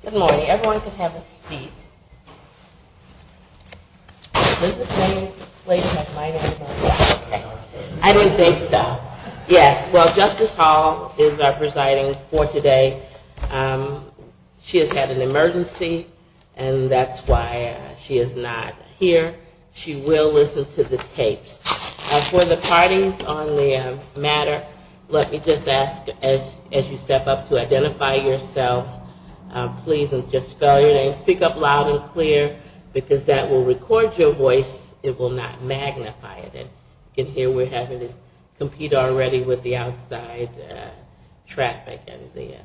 Good morning. Everyone can have a seat. Is this the same place as my meeting? I don't think so. Yes, well Justice Hall is our presiding for today. She has had an emergency and that's why she is not here. She will listen to the tapes. For the parties on the matter, let me just ask as you step up to identify yourselves please and just spell your name. Speak up loud and clear because that will record your voice. It will not magnify it. You can hear we're having to compete already with the outside traffic and the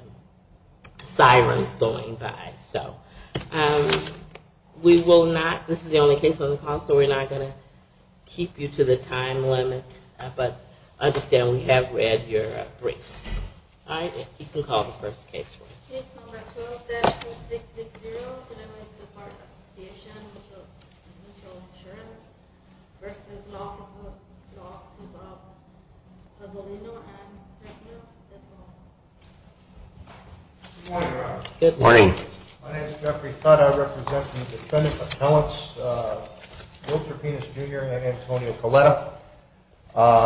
sirens going by. So we will not, this is the only case on the call, so we're not going to keep you to the time limit, but understand we have read your briefs. All right, you can call the first case for us. Case number 12-2660, Tenebrae State Park Association Mutual Insurance v. Law Offices of Tuzzolino & Terpinas. Good morning, Your Honor. Good morning. My name is Jeffrey Fudd. I represent the Defendant Appellants, Will Terpinas Jr. and Antonio Coletta.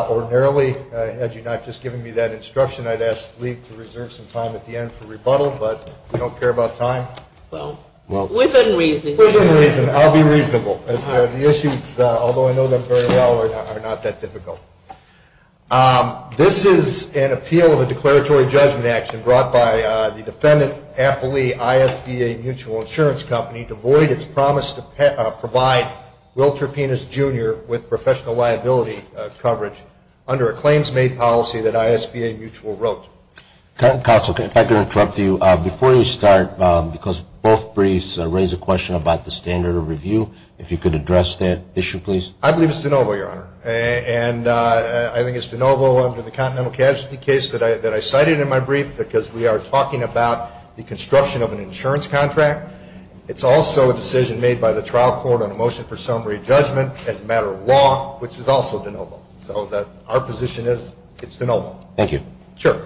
Ordinarily, had you not just given me that instruction, I'd ask Lee to reserve some time at the end for rebuttal, but we don't care about time. Well, within reason. Within reason. I'll be reasonable. The issues, although I know them very well, are not that difficult. This is an appeal of a declaratory judgment action brought by the Defendant Appellee I.S.B.A. Mutual Insurance Company to void its promise to provide Will Terpinas Jr. with professional liability coverage under a claims-made policy that I.S.B.A. Mutual wrote. Counsel, if I could interrupt you, before you start, because both briefs raise a question about the standard of review, if you could address that issue, please. I believe it's de novo, Your Honor, and I think it's de novo under the Continental Casualty case that I cited in my brief, because we are talking about the construction of an insurance contract. It's also a decision made by the trial court on a motion for summary judgment as a matter of law, which is also de novo. So our position is it's de novo. Thank you. Sure.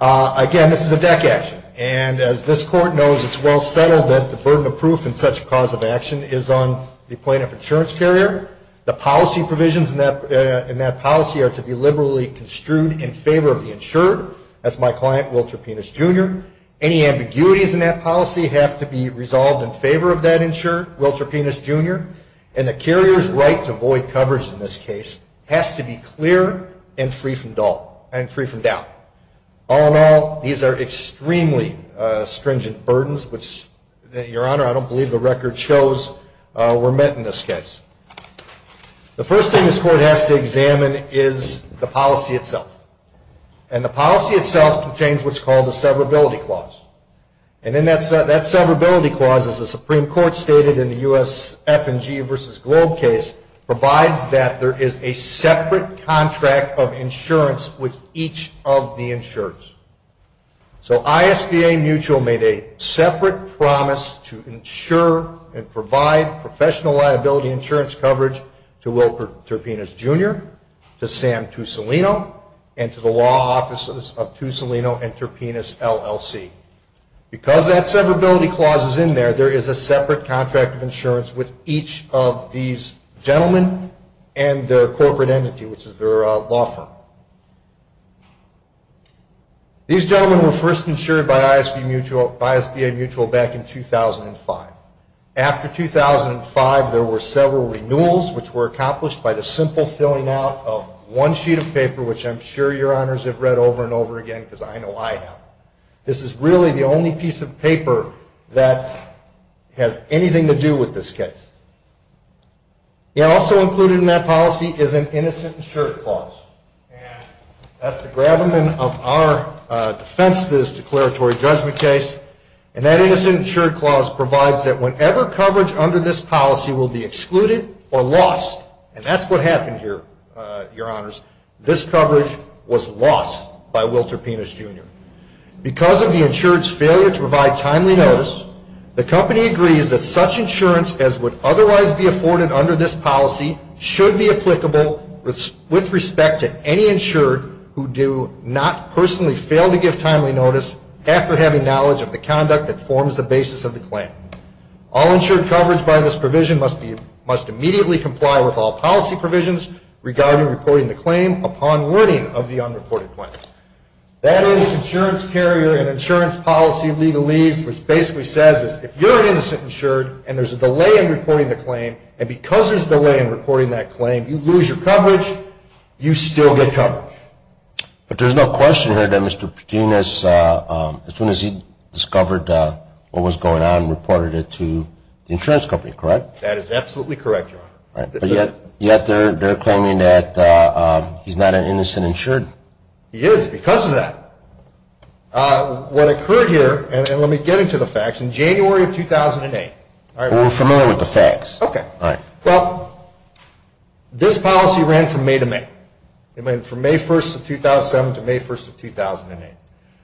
Again, this is a deck action. And as this Court knows, it's well settled that the burden of proof in such a cause of action is on the plaintiff insurance carrier. The policy provisions in that policy are to be liberally construed in favor of the insurer. That's my client, Will Terpinas Jr. Any ambiguities in that policy have to be resolved in favor of that insurer, Will Terpinas Jr., and the carrier's right to void coverage in this case has to be clear and free from doubt. All in all, these are extremely stringent burdens, which, Your Honor, I don't believe the record shows were met in this case. The first thing this Court has to examine is the policy itself. And the policy itself contains what's called a severability clause. And then that severability clause, as the Supreme Court stated in the U.S. F&G v. Globe case, provides that there is a separate contract of insurance with each of the insurers. So ISBA Mutual made a separate promise to insure and provide professional liability insurance coverage to Will Terpinas Jr., to Sam Tussolino, and to the law offices of Tussolino and Terpinas LLC. Because that severability clause is in there, there is a separate contract of insurance with each of these gentlemen and their corporate entity, which is their law firm. These gentlemen were first insured by ISBA Mutual back in 2005. After 2005, there were several renewals, which were accomplished by the simple filling out of one sheet of paper, which I'm sure Your Honors have read over and over again because I know I have. This is really the only piece of paper that has anything to do with this case. Also included in that policy is an innocent insured clause. That's the gravamen of our defense of this declaratory judgment case. And that innocent insured clause provides that whenever coverage under this policy will be excluded or lost, and that's what happened here, Your Honors, this coverage was lost by Will Terpinas Jr. Because of the insured's failure to provide timely notice, the company agrees that such insurance as would otherwise be afforded under this policy should be applicable with respect to any insured who do not personally fail to give timely notice after having knowledge of the conduct that forms the basis of the claim. All insured coverage by this provision must immediately comply with all policy provisions regarding reporting the claim upon learning of the unreported claim. That is insurance carrier and insurance policy legalese, which basically says if you're an innocent insured and there's a delay in reporting the claim, and because there's a delay in reporting that claim, you lose your coverage, you still get coverage. But there's no question here that Mr. Terpinas, as soon as he discovered what was going on, reported it to the insurance company, correct? That is absolutely correct, Your Honor. But yet they're claiming that he's not an innocent insured. He is because of that. What occurred here, and let me get into the facts, in January of 2008. We're familiar with the facts. Well, this policy ran from May to May. It went from May 1st of 2007 to May 1st of 2008.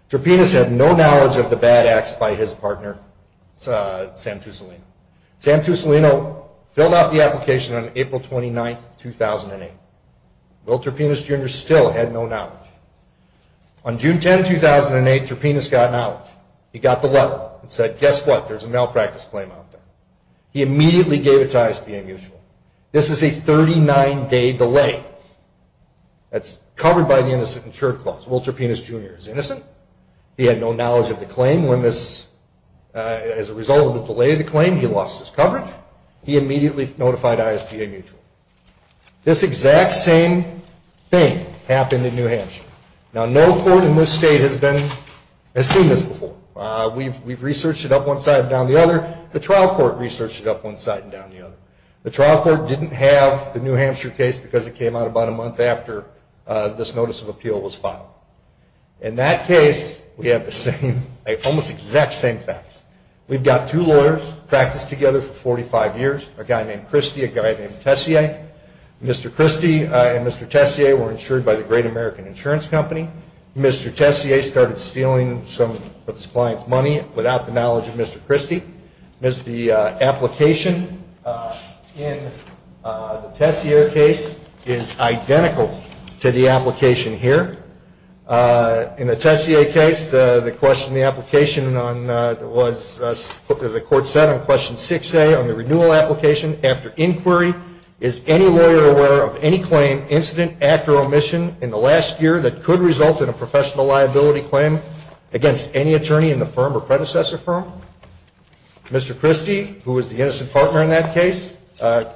Terpinas had no knowledge of the bad acts by his partner, Sam Tussolino. Sam Tussolino filled out the application on April 29th, 2008. Will Terpinas, Jr. still had no knowledge. On June 10, 2008, Terpinas got knowledge. He got the letter and said, guess what? There's a malpractice claim out there. He immediately gave it to ISPA Mutual. This is a 39-day delay. That's covered by the Innocent Insured Clause. Will Terpinas, Jr. is innocent. He had no knowledge of the claim. As a result of the delay of the claim, he lost his coverage. He immediately notified ISPA Mutual. This exact same thing happened in New Hampshire. Now, no court in this state has seen this before. We've researched it up one side and down the other. The trial court researched it up one side and down the other. The trial court didn't have the New Hampshire case because it came out about a month after this notice of appeal was filed. In that case, we have the same, almost exact same facts. We've got two lawyers, practiced together for 45 years, a guy named Christie, a guy named Tessier. Mr. Christie and Mr. Tessier were insured by the Great American Insurance Company. Mr. Tessier started stealing some of his client's money without the knowledge of Mr. Christie. The application in the Tessier case is identical to the application here. In the Tessier case, the question in the application was put to the court on question 6A on the renewal application after inquiry. Is any lawyer aware of any claim, incident, act, or omission in the last year that could result in a professional liability claim against any attorney in the firm or predecessor firm? Mr. Christie, who was the innocent partner in that case,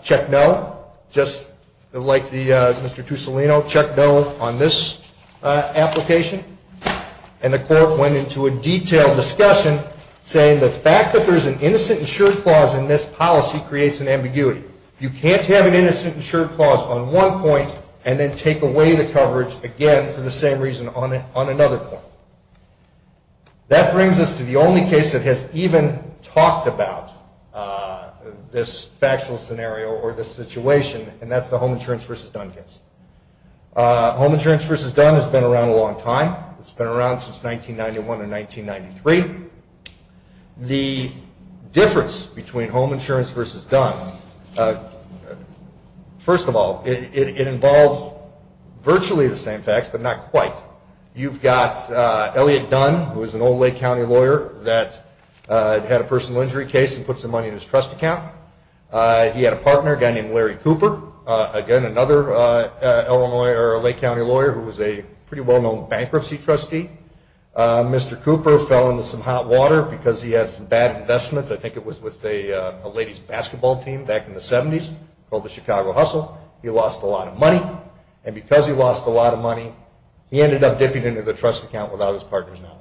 checked no, just like Mr. Tussolino, checked no on this application. And the court went into a detailed discussion saying the fact that there's an innocent insured clause in this policy creates an ambiguity. You can't have an innocent insured clause on one point and then take away the coverage again for the same reason on another point. That brings us to the only case that has even talked about this factual scenario or this situation, and that's the Home Insurance v. Dunn case. Home Insurance v. Dunn has been around a long time. It's been around since 1991 or 1993. The difference between Home Insurance v. Dunn, first of all, it involves virtually the same facts but not quite. You've got Elliot Dunn, who was an old Lake County lawyer that had a personal injury case and put some money in his trust account. He had a partner, a guy named Larry Cooper, again, another Lake County lawyer who was a pretty well-known bankruptcy trustee. Mr. Cooper fell into some hot water because he had some bad investments. I think it was with a ladies' basketball team back in the 70s called the Chicago Hustle. He lost a lot of money, and because he lost a lot of money, he ended up dipping into the trust account without his partner's knowledge.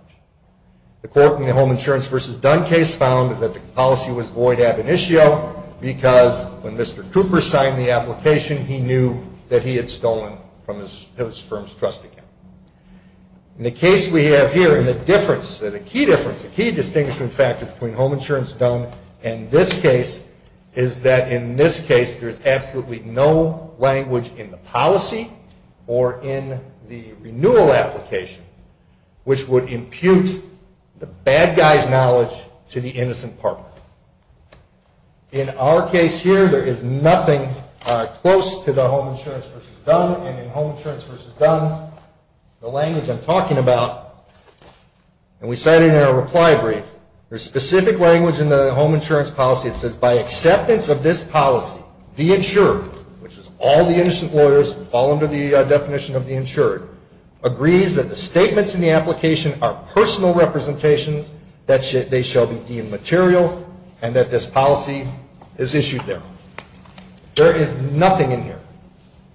The court in the Home Insurance v. Dunn case found that the policy was void ab initio because when Mr. Cooper signed the application, he knew that he had stolen from his firm's trust account. In the case we have here, the difference, the key difference, the key distinguishing factor between Home Insurance v. Dunn and this case is that in this case, there is absolutely no language in the policy or in the renewal application which would impute the bad guy's knowledge to the innocent partner. In our case here, there is nothing close to the Home Insurance v. Dunn, and in Home Insurance v. Dunn, the language I'm talking about, and we cited in our reply brief, there is specific language in the Home Insurance policy that says, by acceptance of this policy, the insured, which is all the innocent lawyers who fall under the definition of the insured, agrees that the statements in the application are personal representations, that they shall be deemed material, and that this policy is issued there. There is nothing in here.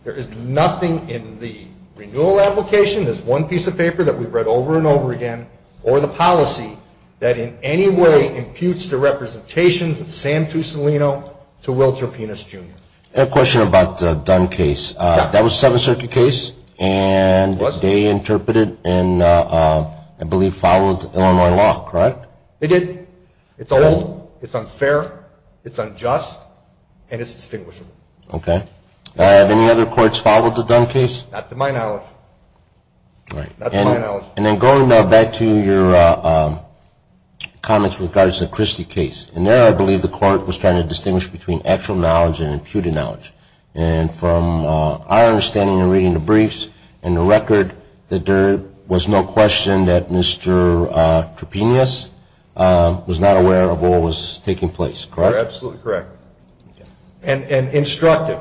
There is nothing in the renewal application, this one piece of paper that we've read over and over again, or the policy that in any way imputes the representations of Sam Tussolino to Wilter Penis Jr. I have a question about the Dunn case. That was a Seventh Circuit case, and they interpreted and I believe followed Illinois law, correct? They did. It's old, it's unfair, it's unjust, and it's distinguishable. Okay. Have any other courts followed the Dunn case? Not to my knowledge. Not to my knowledge. And then going back to your comments with regards to the Christie case, in there I believe the court was trying to distinguish between actual knowledge and imputed knowledge. And from our understanding in reading the briefs and the record, that there was no question that Mr. Trepinius was not aware of what was taking place, correct? You're absolutely correct. And instructive,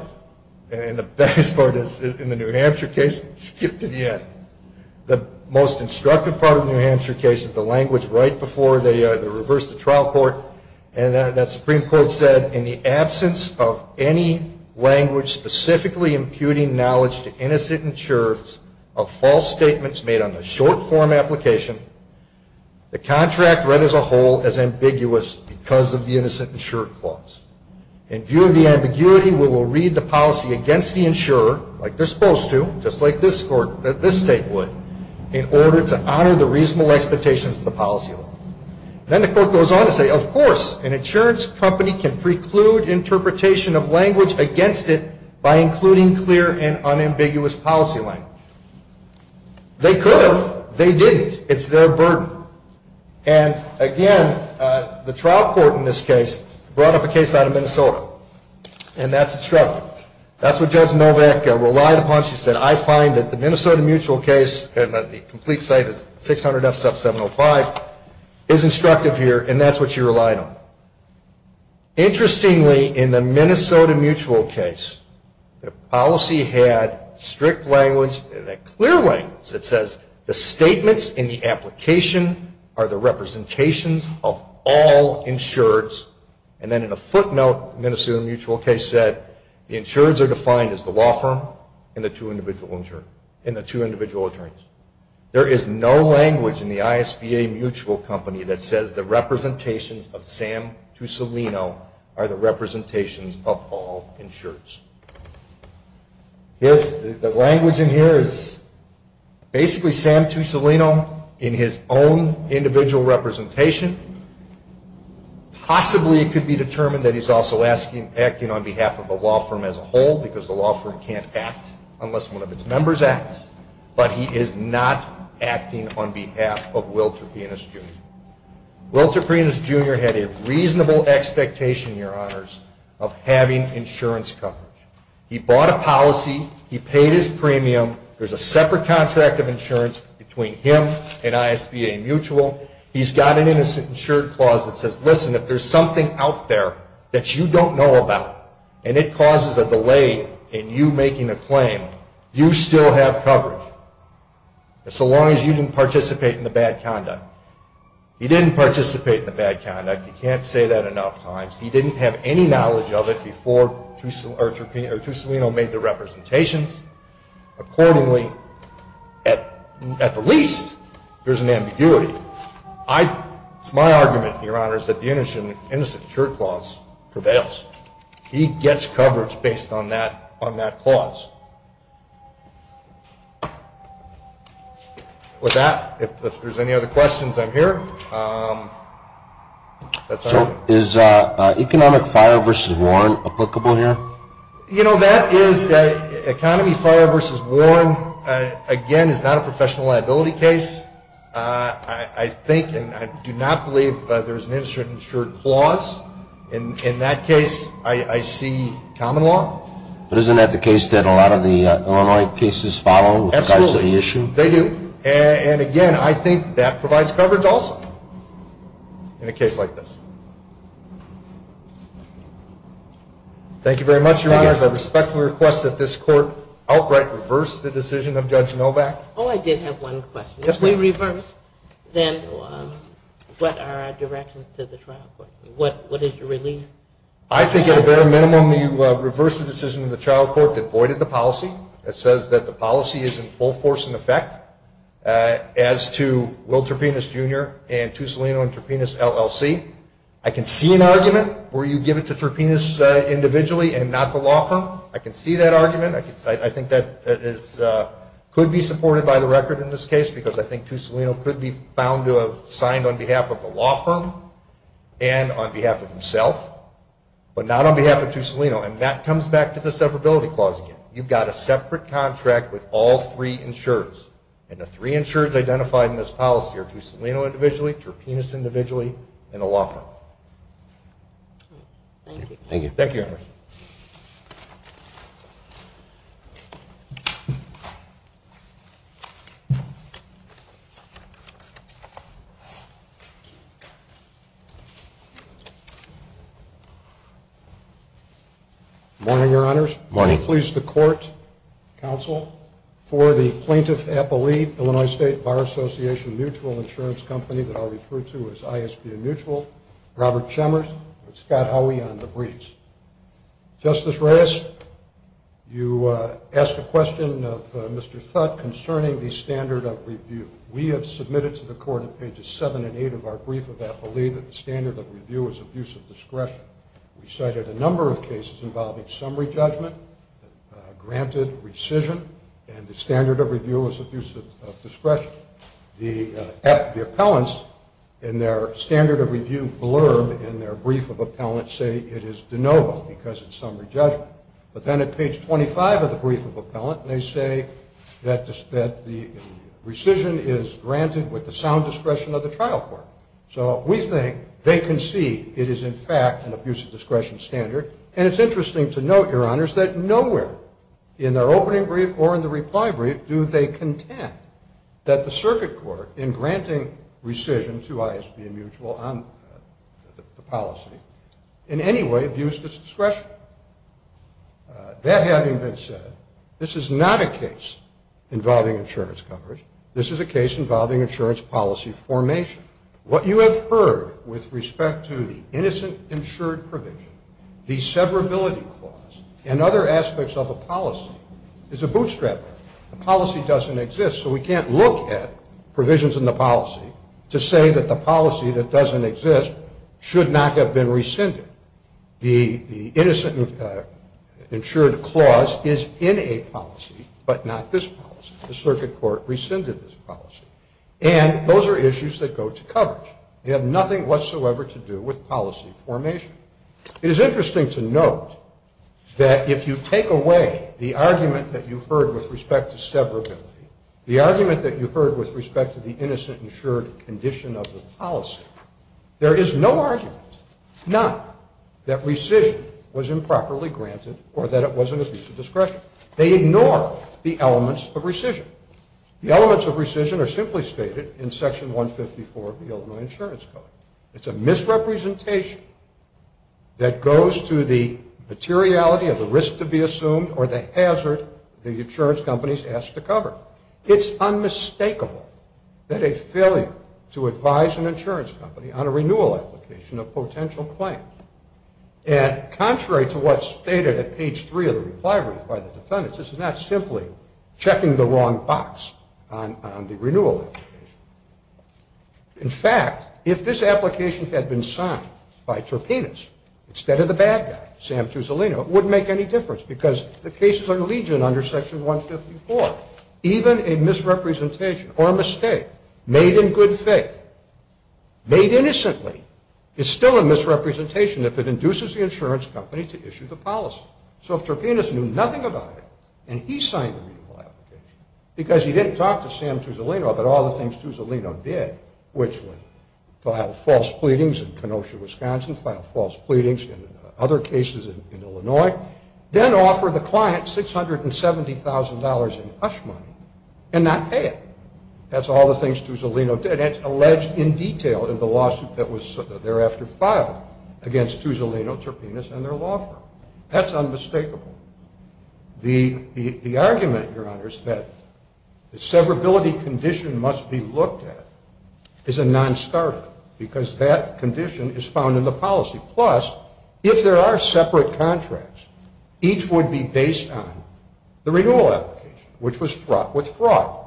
and the best part is in the New Hampshire case, skip to the end. The most instructive part of the New Hampshire case is the language right before they reverse the trial court. And that Supreme Court said, in the absence of any language specifically imputing knowledge to innocent insurers of false statements made on the short form application, the contract read as a whole as ambiguous because of the innocent insurer clause. In view of the ambiguity, we will read the policy against the insurer, like they're supposed to, just like this state would, in order to honor the reasonable expectations of the policy law. Then the court goes on to say, of course, an insurance company can preclude interpretation of language against it by including clear and unambiguous policy language. They could have. They didn't. It's their burden. And again, the trial court in this case brought up a case out of Minnesota, and that's instructive. That's what Judge Novak relied upon. She said, I find that the Minnesota mutual case, and the complete site is 600 F. 705, is instructive here, and that's what you relied on. Interestingly, in the Minnesota mutual case, the policy had strict language, clear language. It says, the statements in the application are the representations of all insurers. And then in a footnote, the Minnesota mutual case said, the insurers are defined as the law firm and the two individual attorneys. There is no language in the ISBA mutual company that says the representations of Sam Tussolino are the representations of all insurers. The language in here is basically Sam Tussolino in his own individual representation, possibly it could be determined that he's also acting on behalf of the law firm as a whole, because the law firm can't act unless one of its members acts, but he is not acting on behalf of Wilter Pienis, Jr. Wilter Pienis, Jr. had a reasonable expectation, Your Honors, of having insurance coverage. He bought a policy. He paid his premium. There's a separate contract of insurance between him and ISBA mutual. He's got an innocent insured clause that says, listen, if there's something out there that you don't know about and it causes a delay in you making a claim, you still have coverage, so long as you didn't participate in the bad conduct. He didn't participate in the bad conduct. You can't say that enough times. He didn't have any knowledge of it before Tussolino made the representations. Accordingly, at the least, there's an ambiguity. It's my argument, Your Honors, that the innocent insured clause prevails. He gets coverage based on that clause. With that, if there's any other questions, I'm here. So is economic fire versus war applicable here? You know, that is economy fire versus war, again, is not a professional liability case. I think and I do not believe there's an innocent insured clause. In that case, I see common law. But isn't that the case that a lot of the Illinois cases follow with regards to the issue? Absolutely. They do. And, again, I think that provides coverage also in a case like this. Thank you very much, Your Honors. I respectfully request that this Court outright reverse the decision of Judge Novak. Oh, I did have one question. Yes, ma'am. If we reverse, then what are our directions to the trial court? What is your relief? I think at a bare minimum, you reverse the decision of the trial court that voided the policy. It says that the policy is in full force and effect. As to Will Terpenes, Jr. and Tussolino and Terpenes, LLC, I can see an argument where you give it to Terpenes individually and not the law firm. I can see that argument. I think that could be supported by the record in this case because I think Tussolino could be found to have signed on behalf of the law firm and on behalf of himself, but not on behalf of Tussolino. And that comes back to the severability clause again. You've got a separate contract with all three insurers, and the three insurers identified in this policy are Tussolino individually, Terpenes individually, and the law firm. Thank you. Thank you. Thank you, Your Honors. Good morning, Your Honors. Good morning. Please, the Court, Counsel, for the Plaintiff Appellee, Illinois State Bar Association Mutual Insurance Company that I'll refer to as ISBM Mutual, Robert Chemers, and Scott Howey on the briefs. Justice Reyes, you asked a question of Mr. Thutt concerning the standard of review. We have submitted to the Court on Pages 7 and 8 of our brief of appellee that the standard of review is abuse of discretion. We cited a number of cases involving summary judgment, granted rescission, and the standard of review is abuse of discretion. The appellants in their standard of review blurb in their brief of appellant say it is de novo because it's summary judgment. But then at Page 25 of the brief of appellant, they say that the rescission is granted with the sound discretion of the trial court. So we think they concede it is, in fact, an abuse of discretion standard, and it's interesting to note, Your Honors, that nowhere in their opening brief or in the reply brief do they contend that the circuit court in granting rescission to ISBM Mutual on the policy in any way abused its discretion. That having been said, this is not a case involving insurance coverage. This is a case involving insurance policy formation. What you have heard with respect to the innocent insured provision, the severability clause, and other aspects of a policy is a bootstrap. The policy doesn't exist, so we can't look at provisions in the policy to say that the policy that doesn't exist should not have been rescinded. The innocent insured clause is in a policy, but not this policy. The circuit court rescinded this policy. And those are issues that go to coverage. They have nothing whatsoever to do with policy formation. It is interesting to note that if you take away the argument that you heard with respect to severability, the argument that you heard with respect to the innocent insured condition of the policy, there is no argument, none, that rescission was improperly granted or that it wasn't abused of discretion. They ignore the elements of rescission. The elements of rescission are simply stated in Section 154 of the Illinois Insurance Code. It's a misrepresentation that goes to the materiality of the risk to be assumed or the hazard the insurance companies ask to cover. It's unmistakable that a failure to advise an insurance company on a renewal application of potential claims, and contrary to what's stated at page three of the reply written by the defendants, this is not simply checking the wrong box on the renewal application. In fact, if this application had been signed by Terpenes instead of the bad guy, Sam Tuzolino, it wouldn't make any difference because the cases are legion under Section 154. Even a misrepresentation or a mistake made in good faith, made innocently, is still a misrepresentation if it induces the insurance company to issue the policy. So if Terpenes knew nothing about it and he signed the renewal application because he didn't talk to Sam Tuzolino about all the things Tuzolino did, which was file false pleadings in Kenosha, Wisconsin, file false pleadings in other cases in Illinois, then offer the client $670,000 in hush money and not pay it. That's all the things Tuzolino did. It's alleged in detail in the lawsuit that was thereafter filed against Tuzolino, Terpenes, and their law firm. That's unmistakable. The argument, Your Honors, that the severability condition must be looked at is a non-starter because that condition is found in the policy. Plus, if there are separate contracts, each would be based on the renewal application, which was fraught with fraud.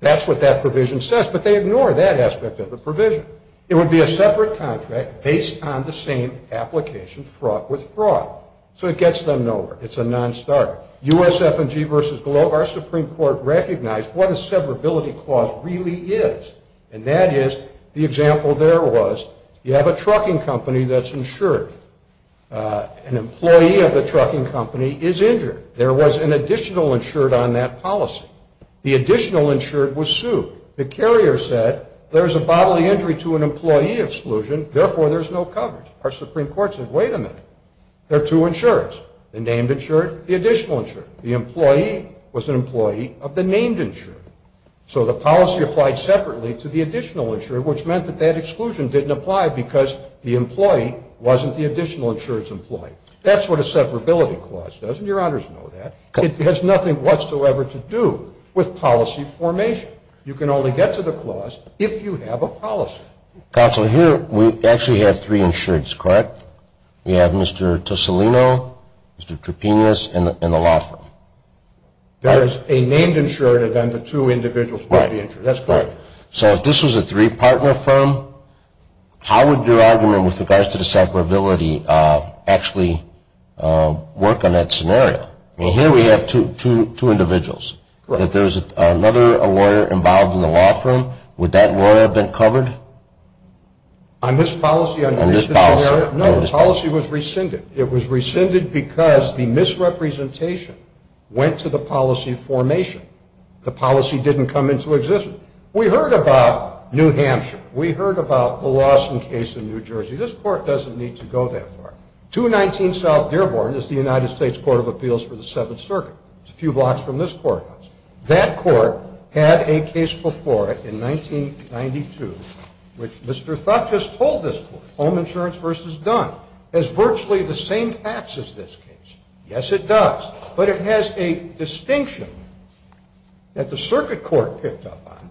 That's what that provision says, but they ignore that aspect of the provision. It would be a separate contract based on the same application, fraught with fraud. So it gets them nowhere. It's a non-starter. USF&G v. Globe, our Supreme Court recognized what a severability clause really is, and that is the example there was you have a trucking company that's insured. An employee of the trucking company is injured. There was an additional insured on that policy. The additional insured was sued. The carrier said there's a bodily injury to an employee exclusion, therefore there's no coverage. Our Supreme Court said, wait a minute. There are two insureds, the named insured, the additional insured. The employee was an employee of the named insured. So the policy applied separately to the additional insured, which meant that that exclusion didn't apply because the employee wasn't the additional insured's employee. That's what a severability clause does, and Your Honors know that. It has nothing whatsoever to do with policy formation. You can only get to the clause if you have a policy. Counselor, here we actually have three insureds, correct? We have Mr. Tosolino, Mr. Trepinas, and the law firm. There is a named insured, and then the two individuals will be insured. That's correct. So if this was a three-part law firm, how would your argument with regards to the severability actually work on that scenario? I mean, here we have two individuals. If there's another lawyer involved in the law firm, would that lawyer have been covered? On this policy? On this policy. No, the policy was rescinded. It was rescinded because the misrepresentation went to the policy formation. The policy didn't come into existence. We heard about New Hampshire. We heard about the Lawson case in New Jersey. This court doesn't need to go that far. 219 South Dearborn is the United States Court of Appeals for the Seventh Circuit. It's a few blocks from this courthouse. That court had a case before it in 1992, which Mr. Thuchess told this court, Home Insurance v. Dunn, has virtually the same facts as this case. Yes, it does. But it has a distinction that the circuit court picked up on,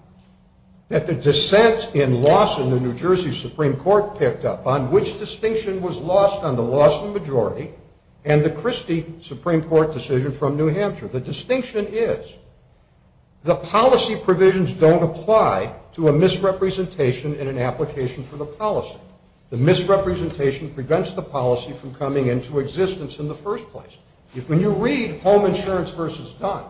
that the dissent in Lawson, the New Jersey Supreme Court picked up on, which distinction was lost on the Lawson majority and the Christie Supreme Court decision from New Hampshire. The distinction is the policy provisions don't apply to a misrepresentation in an application for the policy. The misrepresentation prevents the policy from coming into existence in the first place. When you read Home Insurance v. Dunn,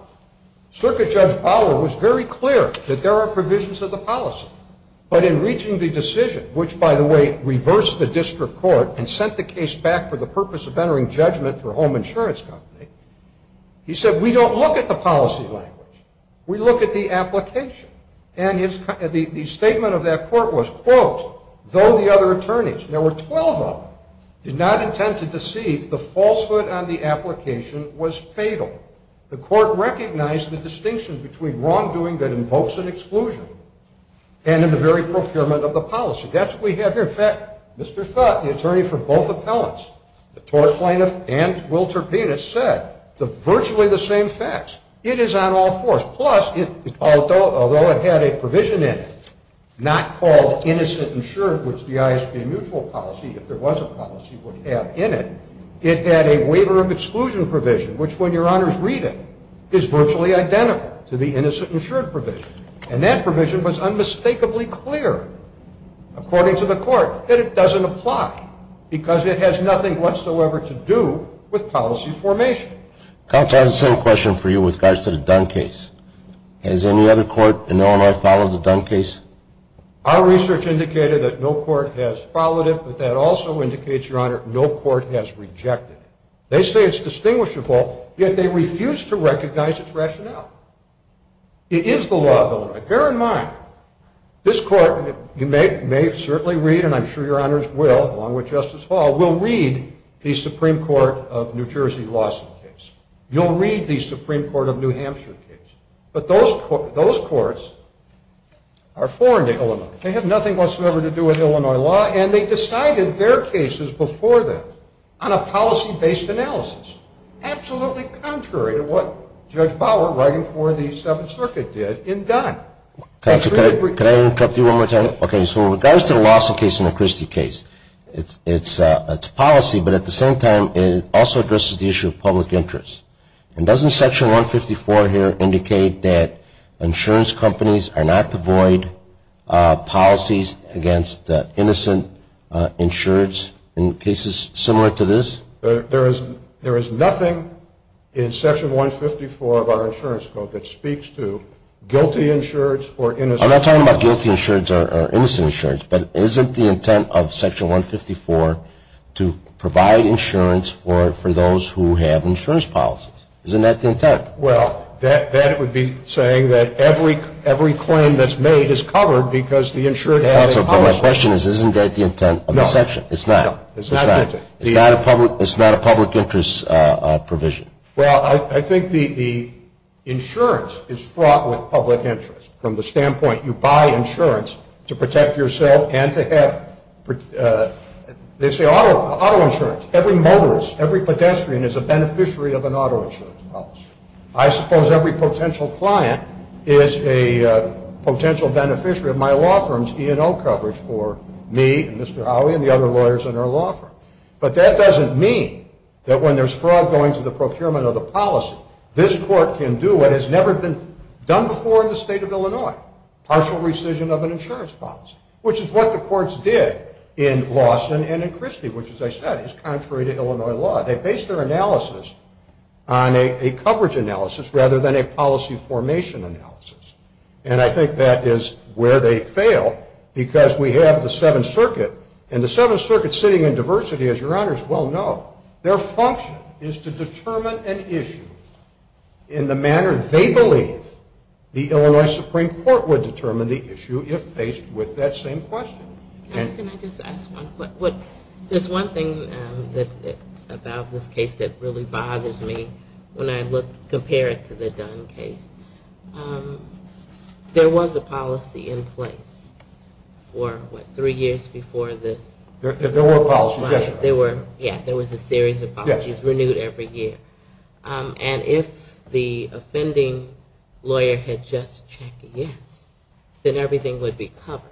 Circuit Judge Bower was very clear that there are provisions of the policy. But in reaching the decision, which, by the way, reversed the district court and sent the case back for the purpose of entering judgment for a home insurance company, he said, We don't look at the policy language. We look at the application. And the statement of that court was, quote, Though the other attorneys, there were 12 of them, did not intend to deceive, the falsehood on the application was fatal. The court recognized the distinction between wrongdoing that invokes an exclusion and in the very procurement of the policy. That's what we have here. In fact, Mr. Thutt, the attorney for both appellants, the tort plaintiff and Wilter Penis said virtually the same facts. It is on all fours. Plus, although it had a provision in it not called innocent insured, which the ISB mutual policy, if there was a policy, would have in it, it had a waiver of exclusion provision, which when your honors read it is virtually identical to the innocent insured provision. And that provision was unmistakably clear, according to the court, that it doesn't apply because it has nothing whatsoever to do with policy formation. Counsel, I have the same question for you with regards to the Dunn case. Has any other court in Illinois followed the Dunn case? Our research indicated that no court has followed it, but that also indicates, your honor, no court has rejected it. They say it's distinguishable, yet they refuse to recognize its rationale. It is the law of Illinois. Bear in mind, this court, you may certainly read, and I'm sure your honors will, along with Justice Hall, will read the Supreme Court of New Jersey lawsuit case. You'll read the Supreme Court of New Hampshire case. But those courts are foreign to Illinois. They have nothing whatsoever to do with Illinois law, and they decided their cases before them on a policy-based analysis, absolutely contrary to what Judge Bauer, writing for the Seventh Circuit, did in Dunn. Counsel, can I interrupt you one more time? Okay. So in regards to the Lawson case and the Christie case, it's policy, but at the same time it also addresses the issue of public interest. And doesn't Section 154 here indicate that insurance companies are not to void policies against innocent insureds in cases similar to this? There is nothing in Section 154 of our insurance code that speaks to guilty insureds or innocent insureds. I'm not talking about guilty insureds or innocent insureds, but isn't the intent of Section 154 to provide insurance for those who have insurance policies? Isn't that the intent? Well, that would be saying that every claim that's made is covered because the insured has a policy. Counsel, but my question is, isn't that the intent of the section? No. It's not. It's not the intent. It's not a public interest provision. Well, I think the insurance is fraught with public interest from the standpoint you buy insurance to protect yourself and to have, they say, auto insurance. Every motorist, every pedestrian is a beneficiary of an auto insurance policy. I suppose every potential client is a potential beneficiary of my law firm's E&O coverage for me and Mr. Howey and the other lawyers in our law firm. But that doesn't mean that when there's fraud going to the procurement of the policy, this court can do what has never been done before in the state of Illinois, partial rescission of an insurance policy, which is what the courts did in Lawson and in Christie, which, as I said, is contrary to Illinois law. They based their analysis on a coverage analysis rather than a policy formation analysis. And I think that is where they fail because we have the Seventh Circuit, and the Seventh Circuit sitting in diversity, as your honors well know, their function is to determine an issue in the manner they believe the Illinois Supreme Court would determine the issue if faced with that same question. Can I just ask one? There's one thing about this case that really bothers me when I compare it to the Dunn case. There was a policy in place for what, three years before this? There were policies, yes. Yeah, there was a series of policies renewed every year. And if the offending lawyer had just checked yes, then everything would be covered.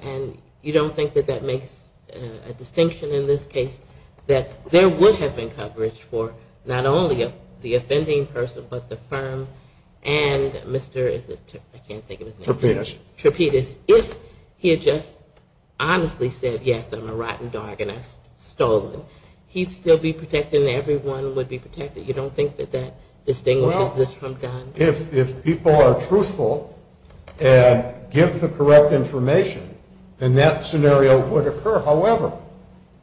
And you don't think that that makes a distinction in this case, that there would have been coverage for not only the offending person, but the firm and Mr. is it, I can't think of his name. Trapedas. If he had just honestly said, yes, I'm a rotten dog and I've stolen, he'd still be protected and everyone would be protected? You don't think that that distinguishes this from Dunn? Well, if people are truthful and give the correct information, then that scenario would occur. However,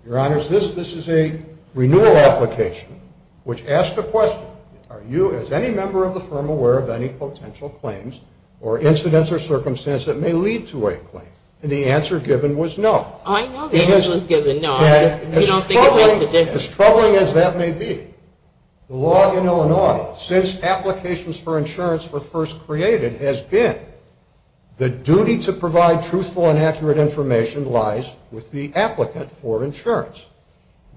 your honors, this is a renewal application which asks the question, are you as any member of the firm aware of any potential claims or incidents or circumstances that may lead to a claim? And the answer given was no. I know the answer was given, no. As troubling as that may be, the law in Illinois, since applications for insurance were first created, has been the duty to provide truthful and accurate information lies with the applicant for insurance.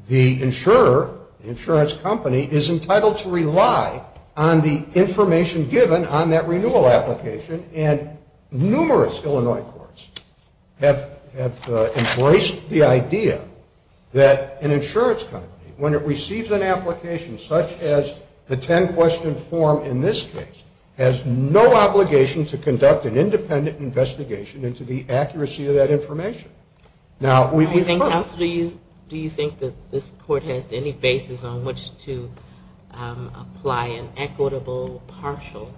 The insurer, the insurance company, is entitled to rely on the information given on that renewal application, and numerous Illinois courts have embraced the idea that an insurance company, when it receives an application such as the ten-question form in this case, has no obligation to conduct an independent investigation into the accuracy of that information. Do you think that this court has any basis on which to apply an equitable partial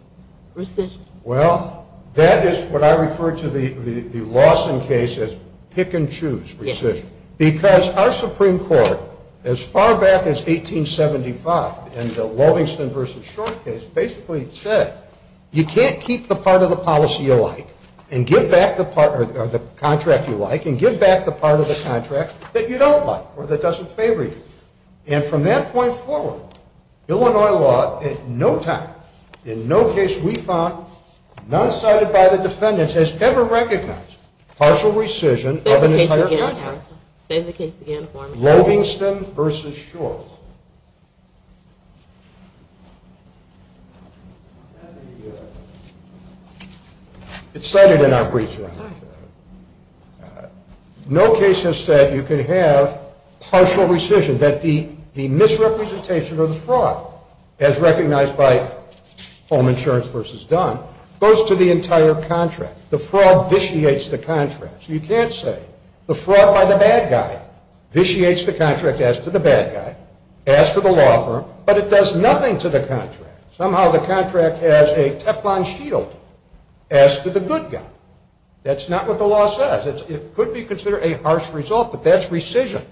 rescission? Well, that is what I refer to the Lawson case as pick-and-choose rescission. Because our Supreme Court, as far back as 1875 in the Lovingston v. Short case, basically said you can't keep the part of the policy you like and give back the part or the contract you like and give back the part of the contract that you don't like or that doesn't favor you. And from that point forward, Illinois law at no time, in no case we found, not cited by the defendants, has ever recognized partial rescission of an entire contract. Say the case again for me. Lovingston v. Short. It's cited in our brief here. No case has said you can have partial rescission, that the misrepresentation of the fraud, as recognized by Home Insurance v. Dunn, goes to the entire contract. The fraud vitiates the contract. So you can't say the fraud by the bad guy vitiates the contract as to the bad guy. As to the law firm. But it does nothing to the contract. Somehow the contract has a Teflon shield as to the good guy. That's not what the law says. It could be considered a harsh result, but that's rescission.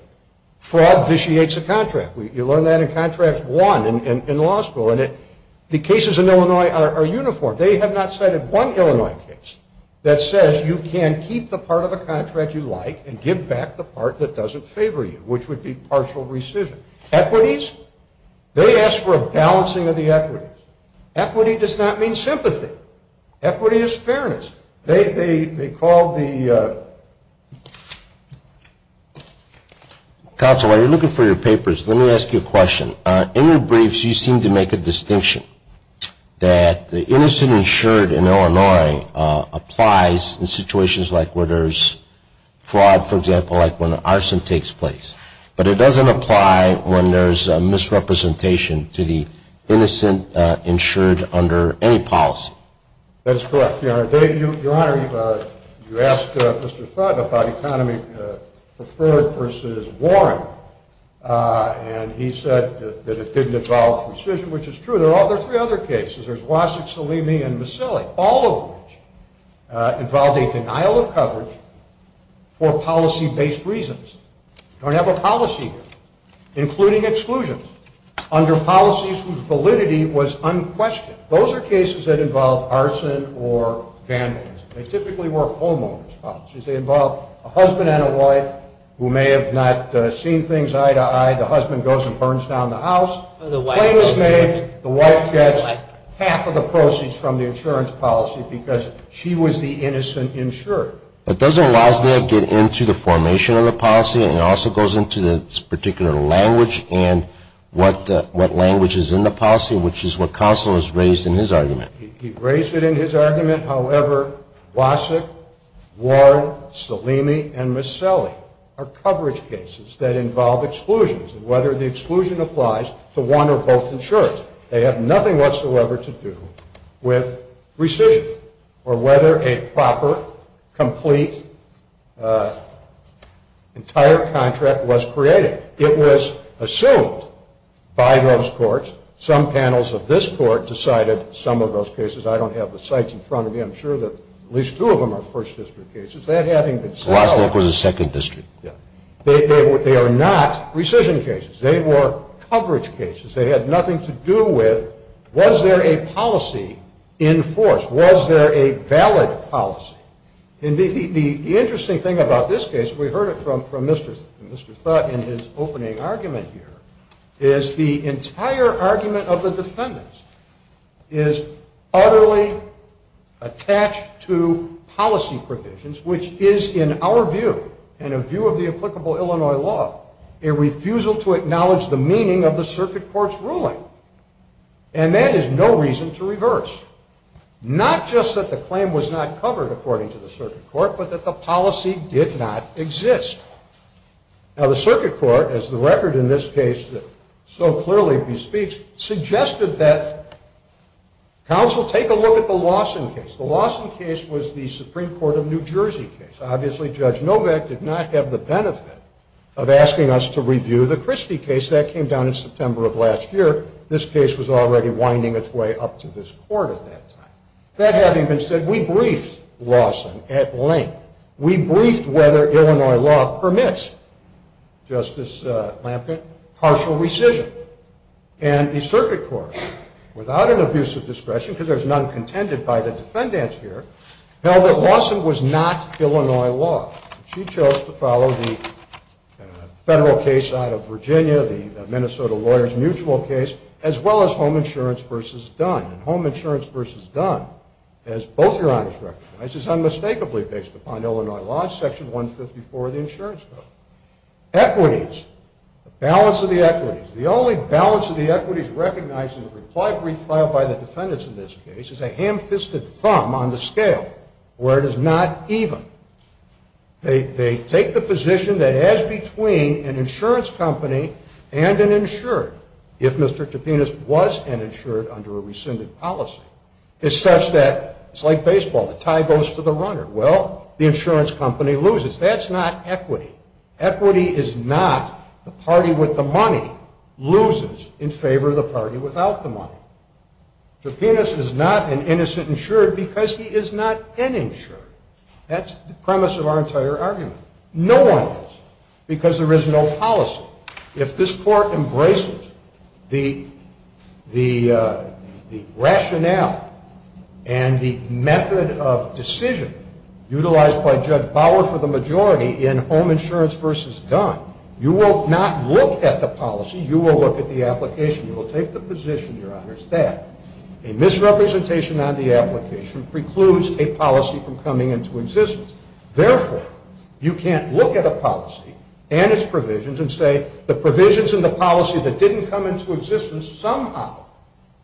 Fraud vitiates the contract. You learn that in contract one in law school. And the cases in Illinois are uniform. They have not cited one Illinois case that says you can keep the part of the contract you like and give back the part that doesn't favor you, which would be partial rescission. Equities? They ask for a balancing of the equities. Equity does not mean sympathy. Equity is fairness. They call the. Counsel, while you're looking for your papers, let me ask you a question. In your briefs you seem to make a distinction that the innocent insured in Illinois applies in situations like where there's fraud, for example, like when arson takes place. But it doesn't apply when there's a misrepresentation to the innocent insured under any policy. That's correct. Your Honor, you asked Mr. Fudd about economy preferred versus Warren. And he said that it didn't involve rescission, which is true. There are three other cases. There's Wasik, Salimi, and Mussilli, all of which involved a denial of coverage for policy-based reasons. They don't have a policy here, including exclusions under policies whose validity was unquestioned. Those are cases that involve arson or vandalism. They typically were homeowners' policies. They involve a husband and a wife who may have not seen things eye to eye. The husband goes and burns down the house. The wife gets half of the proceeds from the insurance policy because she was the innocent insured. But doesn't Wasik get into the formation of the policy and also goes into this particular language and what language is in the policy, which is what counsel has raised in his argument? He raised it in his argument. However, Wasik, Warren, Salimi, and Mussilli are coverage cases that involve exclusions, and whether the exclusion applies to one or both insurers. They have nothing whatsoever to do with rescission or whether a proper, complete, entire contract was created. It was assumed by those courts. Some panels of this court decided some of those cases. I don't have the sites in front of me. I'm sure that at least two of them are First District cases. That having been said, they are not rescission cases. They were coverage cases. They had nothing to do with was there a policy in force? Was there a valid policy? And the interesting thing about this case, we heard it from Mr. Thott in his opening argument here, is the entire argument of the defendants is utterly attached to policy provisions, which is, in our view and a view of the applicable Illinois law, a refusal to acknowledge the meaning of the circuit court's ruling. And that is no reason to reverse, not just that the claim was not covered, according to the circuit court, but that the policy did not exist. Now, the circuit court, as the record in this case so clearly bespeaks, suggested that counsel take a look at the Lawson case. The Lawson case was the Supreme Court of New Jersey case. Obviously, Judge Novak did not have the benefit of asking us to review the Christie case. That came down in September of last year. This case was already winding its way up to this court at that time. That having been said, we briefed Lawson at length. We briefed whether Illinois law permits, Justice Lampkin, partial rescission. And the circuit court, without an abuse of discretion, because there's none contended by the defendants here, held that Lawson was not Illinois law. She chose to follow the federal case out of Virginia, the Minnesota lawyers' mutual case, as well as home insurance versus Dunn. And home insurance versus Dunn, as both Your Honors recognize, is unmistakably based upon Illinois law, Section 154 of the Insurance Code. Equities, the balance of the equities. The only balance of the equities recognized in the reply brief filed by the defendants in this case is a ham-fisted thumb on the scale, where it is not even. They take the position that as between an insurance company and an insured, if Mr. Topinas was an insured under a rescinded policy, it's such that it's like baseball. The tie goes to the runner. Well, the insurance company loses. That's not equity. Equity is not the party with the money loses in favor of the party without the money. Topinas is not an innocent insured because he is not an insured. That's the premise of our entire argument. No one is, because there is no policy. If this Court embraces the rationale and the method of decision utilized by Judge Bauer for the majority in home insurance versus Dunn, you will not look at the policy. You will look at the application. You will take the position, Your Honors, that a misrepresentation on the application precludes a policy from coming into existence. Therefore, you can't look at a policy and its provisions and say the provisions and the policy that didn't come into existence somehow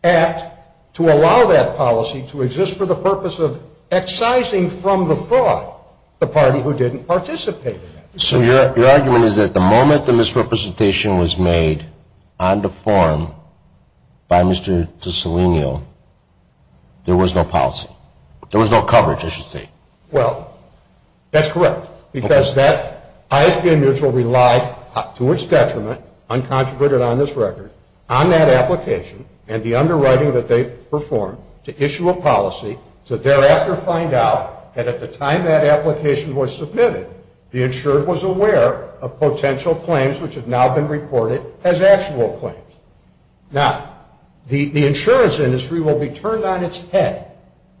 act to allow that policy to exist for the purpose of excising from the fraud the party who didn't participate in it. So your argument is that the moment the misrepresentation was made on the form by Mr. DeSalegno, there was no policy. There was no coverage, I should say. Well, that's correct. Because that ISBM mutual relied to its detriment, uncontroverted on this record, on that application and the underwriting that they performed to issue a policy to thereafter find out that at the time that application was submitted, the insurer was aware of potential claims which had now been reported as actual claims. Now, the insurance industry will be turned on its head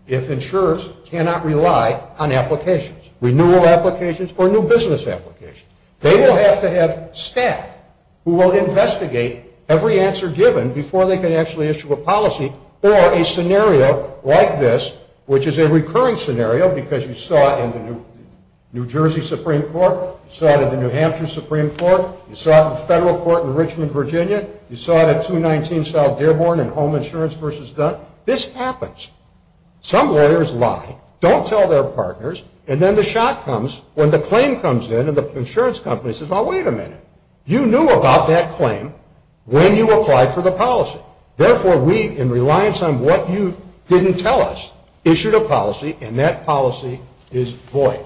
if insurers cannot rely on applications, renewal applications or new business applications. They will have to have staff who will investigate every answer given before they can actually issue a policy or a scenario like this, which is a recurring scenario because you saw it in the New Jersey Supreme Court, you saw it in the New Hampshire Supreme Court, you saw it in the federal court in Richmond, Virginia, you saw it at 219 South Dearborn in Home Insurance v. Dunn. This happens. Some lawyers lie, don't tell their partners, and then the shock comes when the claim comes in and the insurance company says, well, wait a minute. You knew about that claim when you applied for the policy. Therefore, we, in reliance on what you didn't tell us, issued a policy, and that policy is void.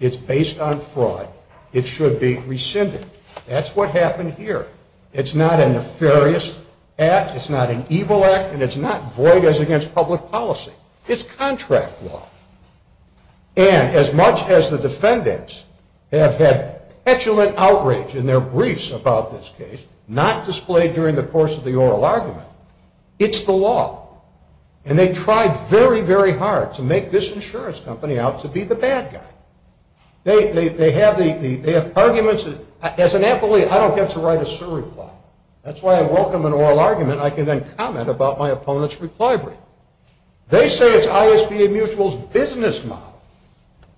It's based on fraud. It should be rescinded. That's what happened here. It's not a nefarious act, it's not an evil act, and it's not void as against public policy. It's contract law. And as much as the defendants have had petulant outrage in their briefs about this case, not displayed during the course of the oral argument, it's the law. And they tried very, very hard to make this insurance company out to be the bad guy. They have arguments. As an employee, I don't get to write a surreply. That's why I welcome an oral argument. I can then comment about my opponent's reply brief. They say it's ISBA Mutual's business model,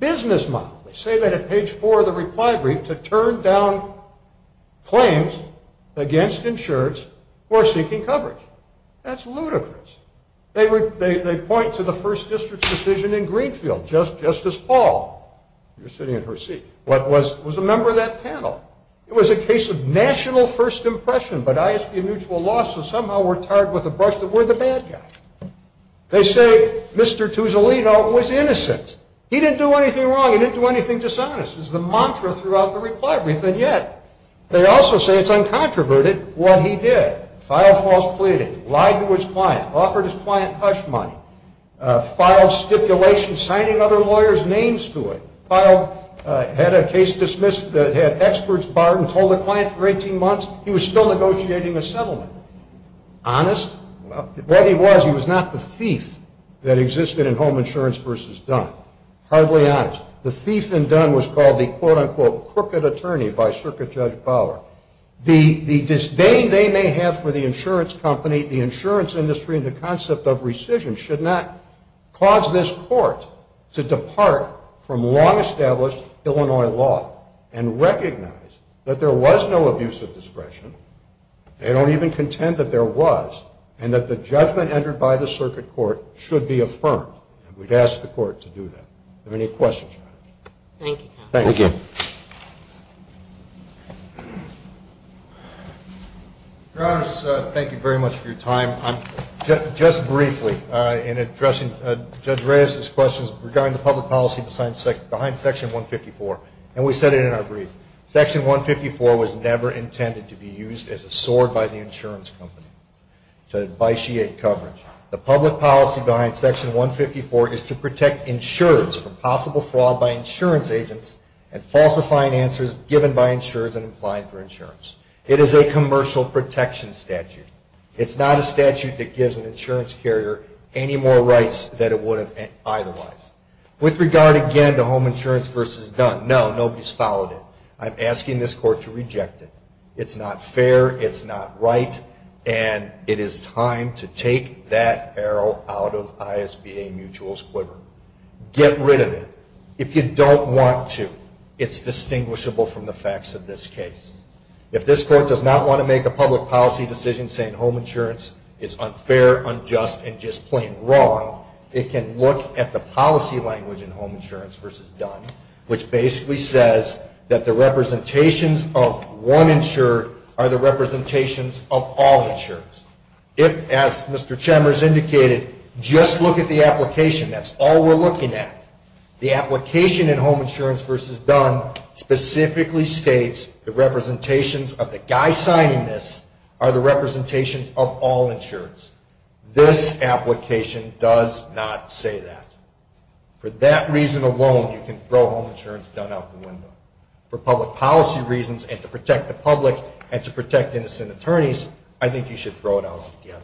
business model. They say that at page 4 of the reply brief, to turn down claims against insurance for seeking coverage. That's ludicrous. They point to the first district's decision in Greenfield. Justice Paul, you're sitting in her seat, was a member of that panel. It was a case of national first impression, but ISBA Mutual lost, so somehow we're tarred with the brush that we're the bad guy. They say Mr. Tuzolino was innocent. He didn't do anything wrong. He didn't do anything dishonest. It's the mantra throughout the reply brief, and yet they also say it's uncontroverted what he did. Filed false pleading. Lied to his client. Offered his client hush money. Filed stipulation signing other lawyers' names to it. Filed, had a case dismissed, had experts barred and told the client for 18 months he was still negotiating a settlement. Honest? What he was, he was not the thief that existed in Home Insurance v. Dunn. Hardly honest. The thief in Dunn was called the, quote, unquote, crooked attorney by Circuit Judge Bauer. The disdain they may have for the insurance company, the insurance industry, and the concept of rescission should not cause this court to depart from long-established Illinois law and recognize that there was no abuse of discretion. They don't even contend that there was, and that the judgment entered by the circuit court should be affirmed. We'd ask the court to do that. Are there any questions? Thank you. Thank you. Your Honor, thank you very much for your time. Just briefly, in addressing Judge Reyes's questions regarding the public policy behind Section 154, and we said it in our brief, Section 154 was never intended to be used as a sword by the insurance company to vitiate coverage. The public policy behind Section 154 is to protect insurers from possible fraud by insurance agents and falsifying answers given by insurers and applying for insurance. It is a commercial protection statute. It's not a statute that gives an insurance carrier any more rights than it would have otherwise. With regard, again, to home insurance versus Dunn, no, nobody's followed it. I'm asking this court to reject it. It's not fair. It's not right. And it is time to take that arrow out of ISBA mutual's quiver. Get rid of it. If you don't want to, it's distinguishable from the facts of this case. If this court does not want to make a public policy decision saying home insurance is unfair, unjust, and just plain wrong, it can look at the policy language in home insurance versus Dunn, which basically says that the representations of one insured are the representations of all insureds. If, as Mr. Chambers indicated, just look at the application, that's all we're looking at. The application in home insurance versus Dunn specifically states the representations of the guy signing this are the representations of all insureds. This application does not say that. For that reason alone, you can throw home insurance Dunn out the window. For public policy reasons and to protect the public and to protect innocent attorneys, I think you should throw it out altogether.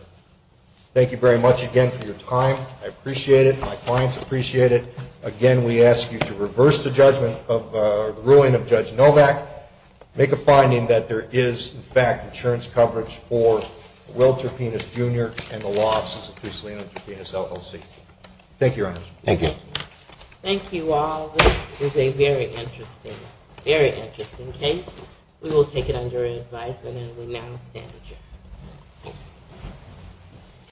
Thank you very much again for your time. I appreciate it. My clients appreciate it. Again, we ask you to reverse the judgment of the ruling of Judge Novak. Make a finding that there is, in fact, insurance coverage for Will Terpenes, Jr. and the losses of Bruce Leland Terpenes, LLC. Thank you, Your Honor. Thank you. Thank you all. This is a very interesting, very interesting case. We will take it under advisement and we now stand adjourned.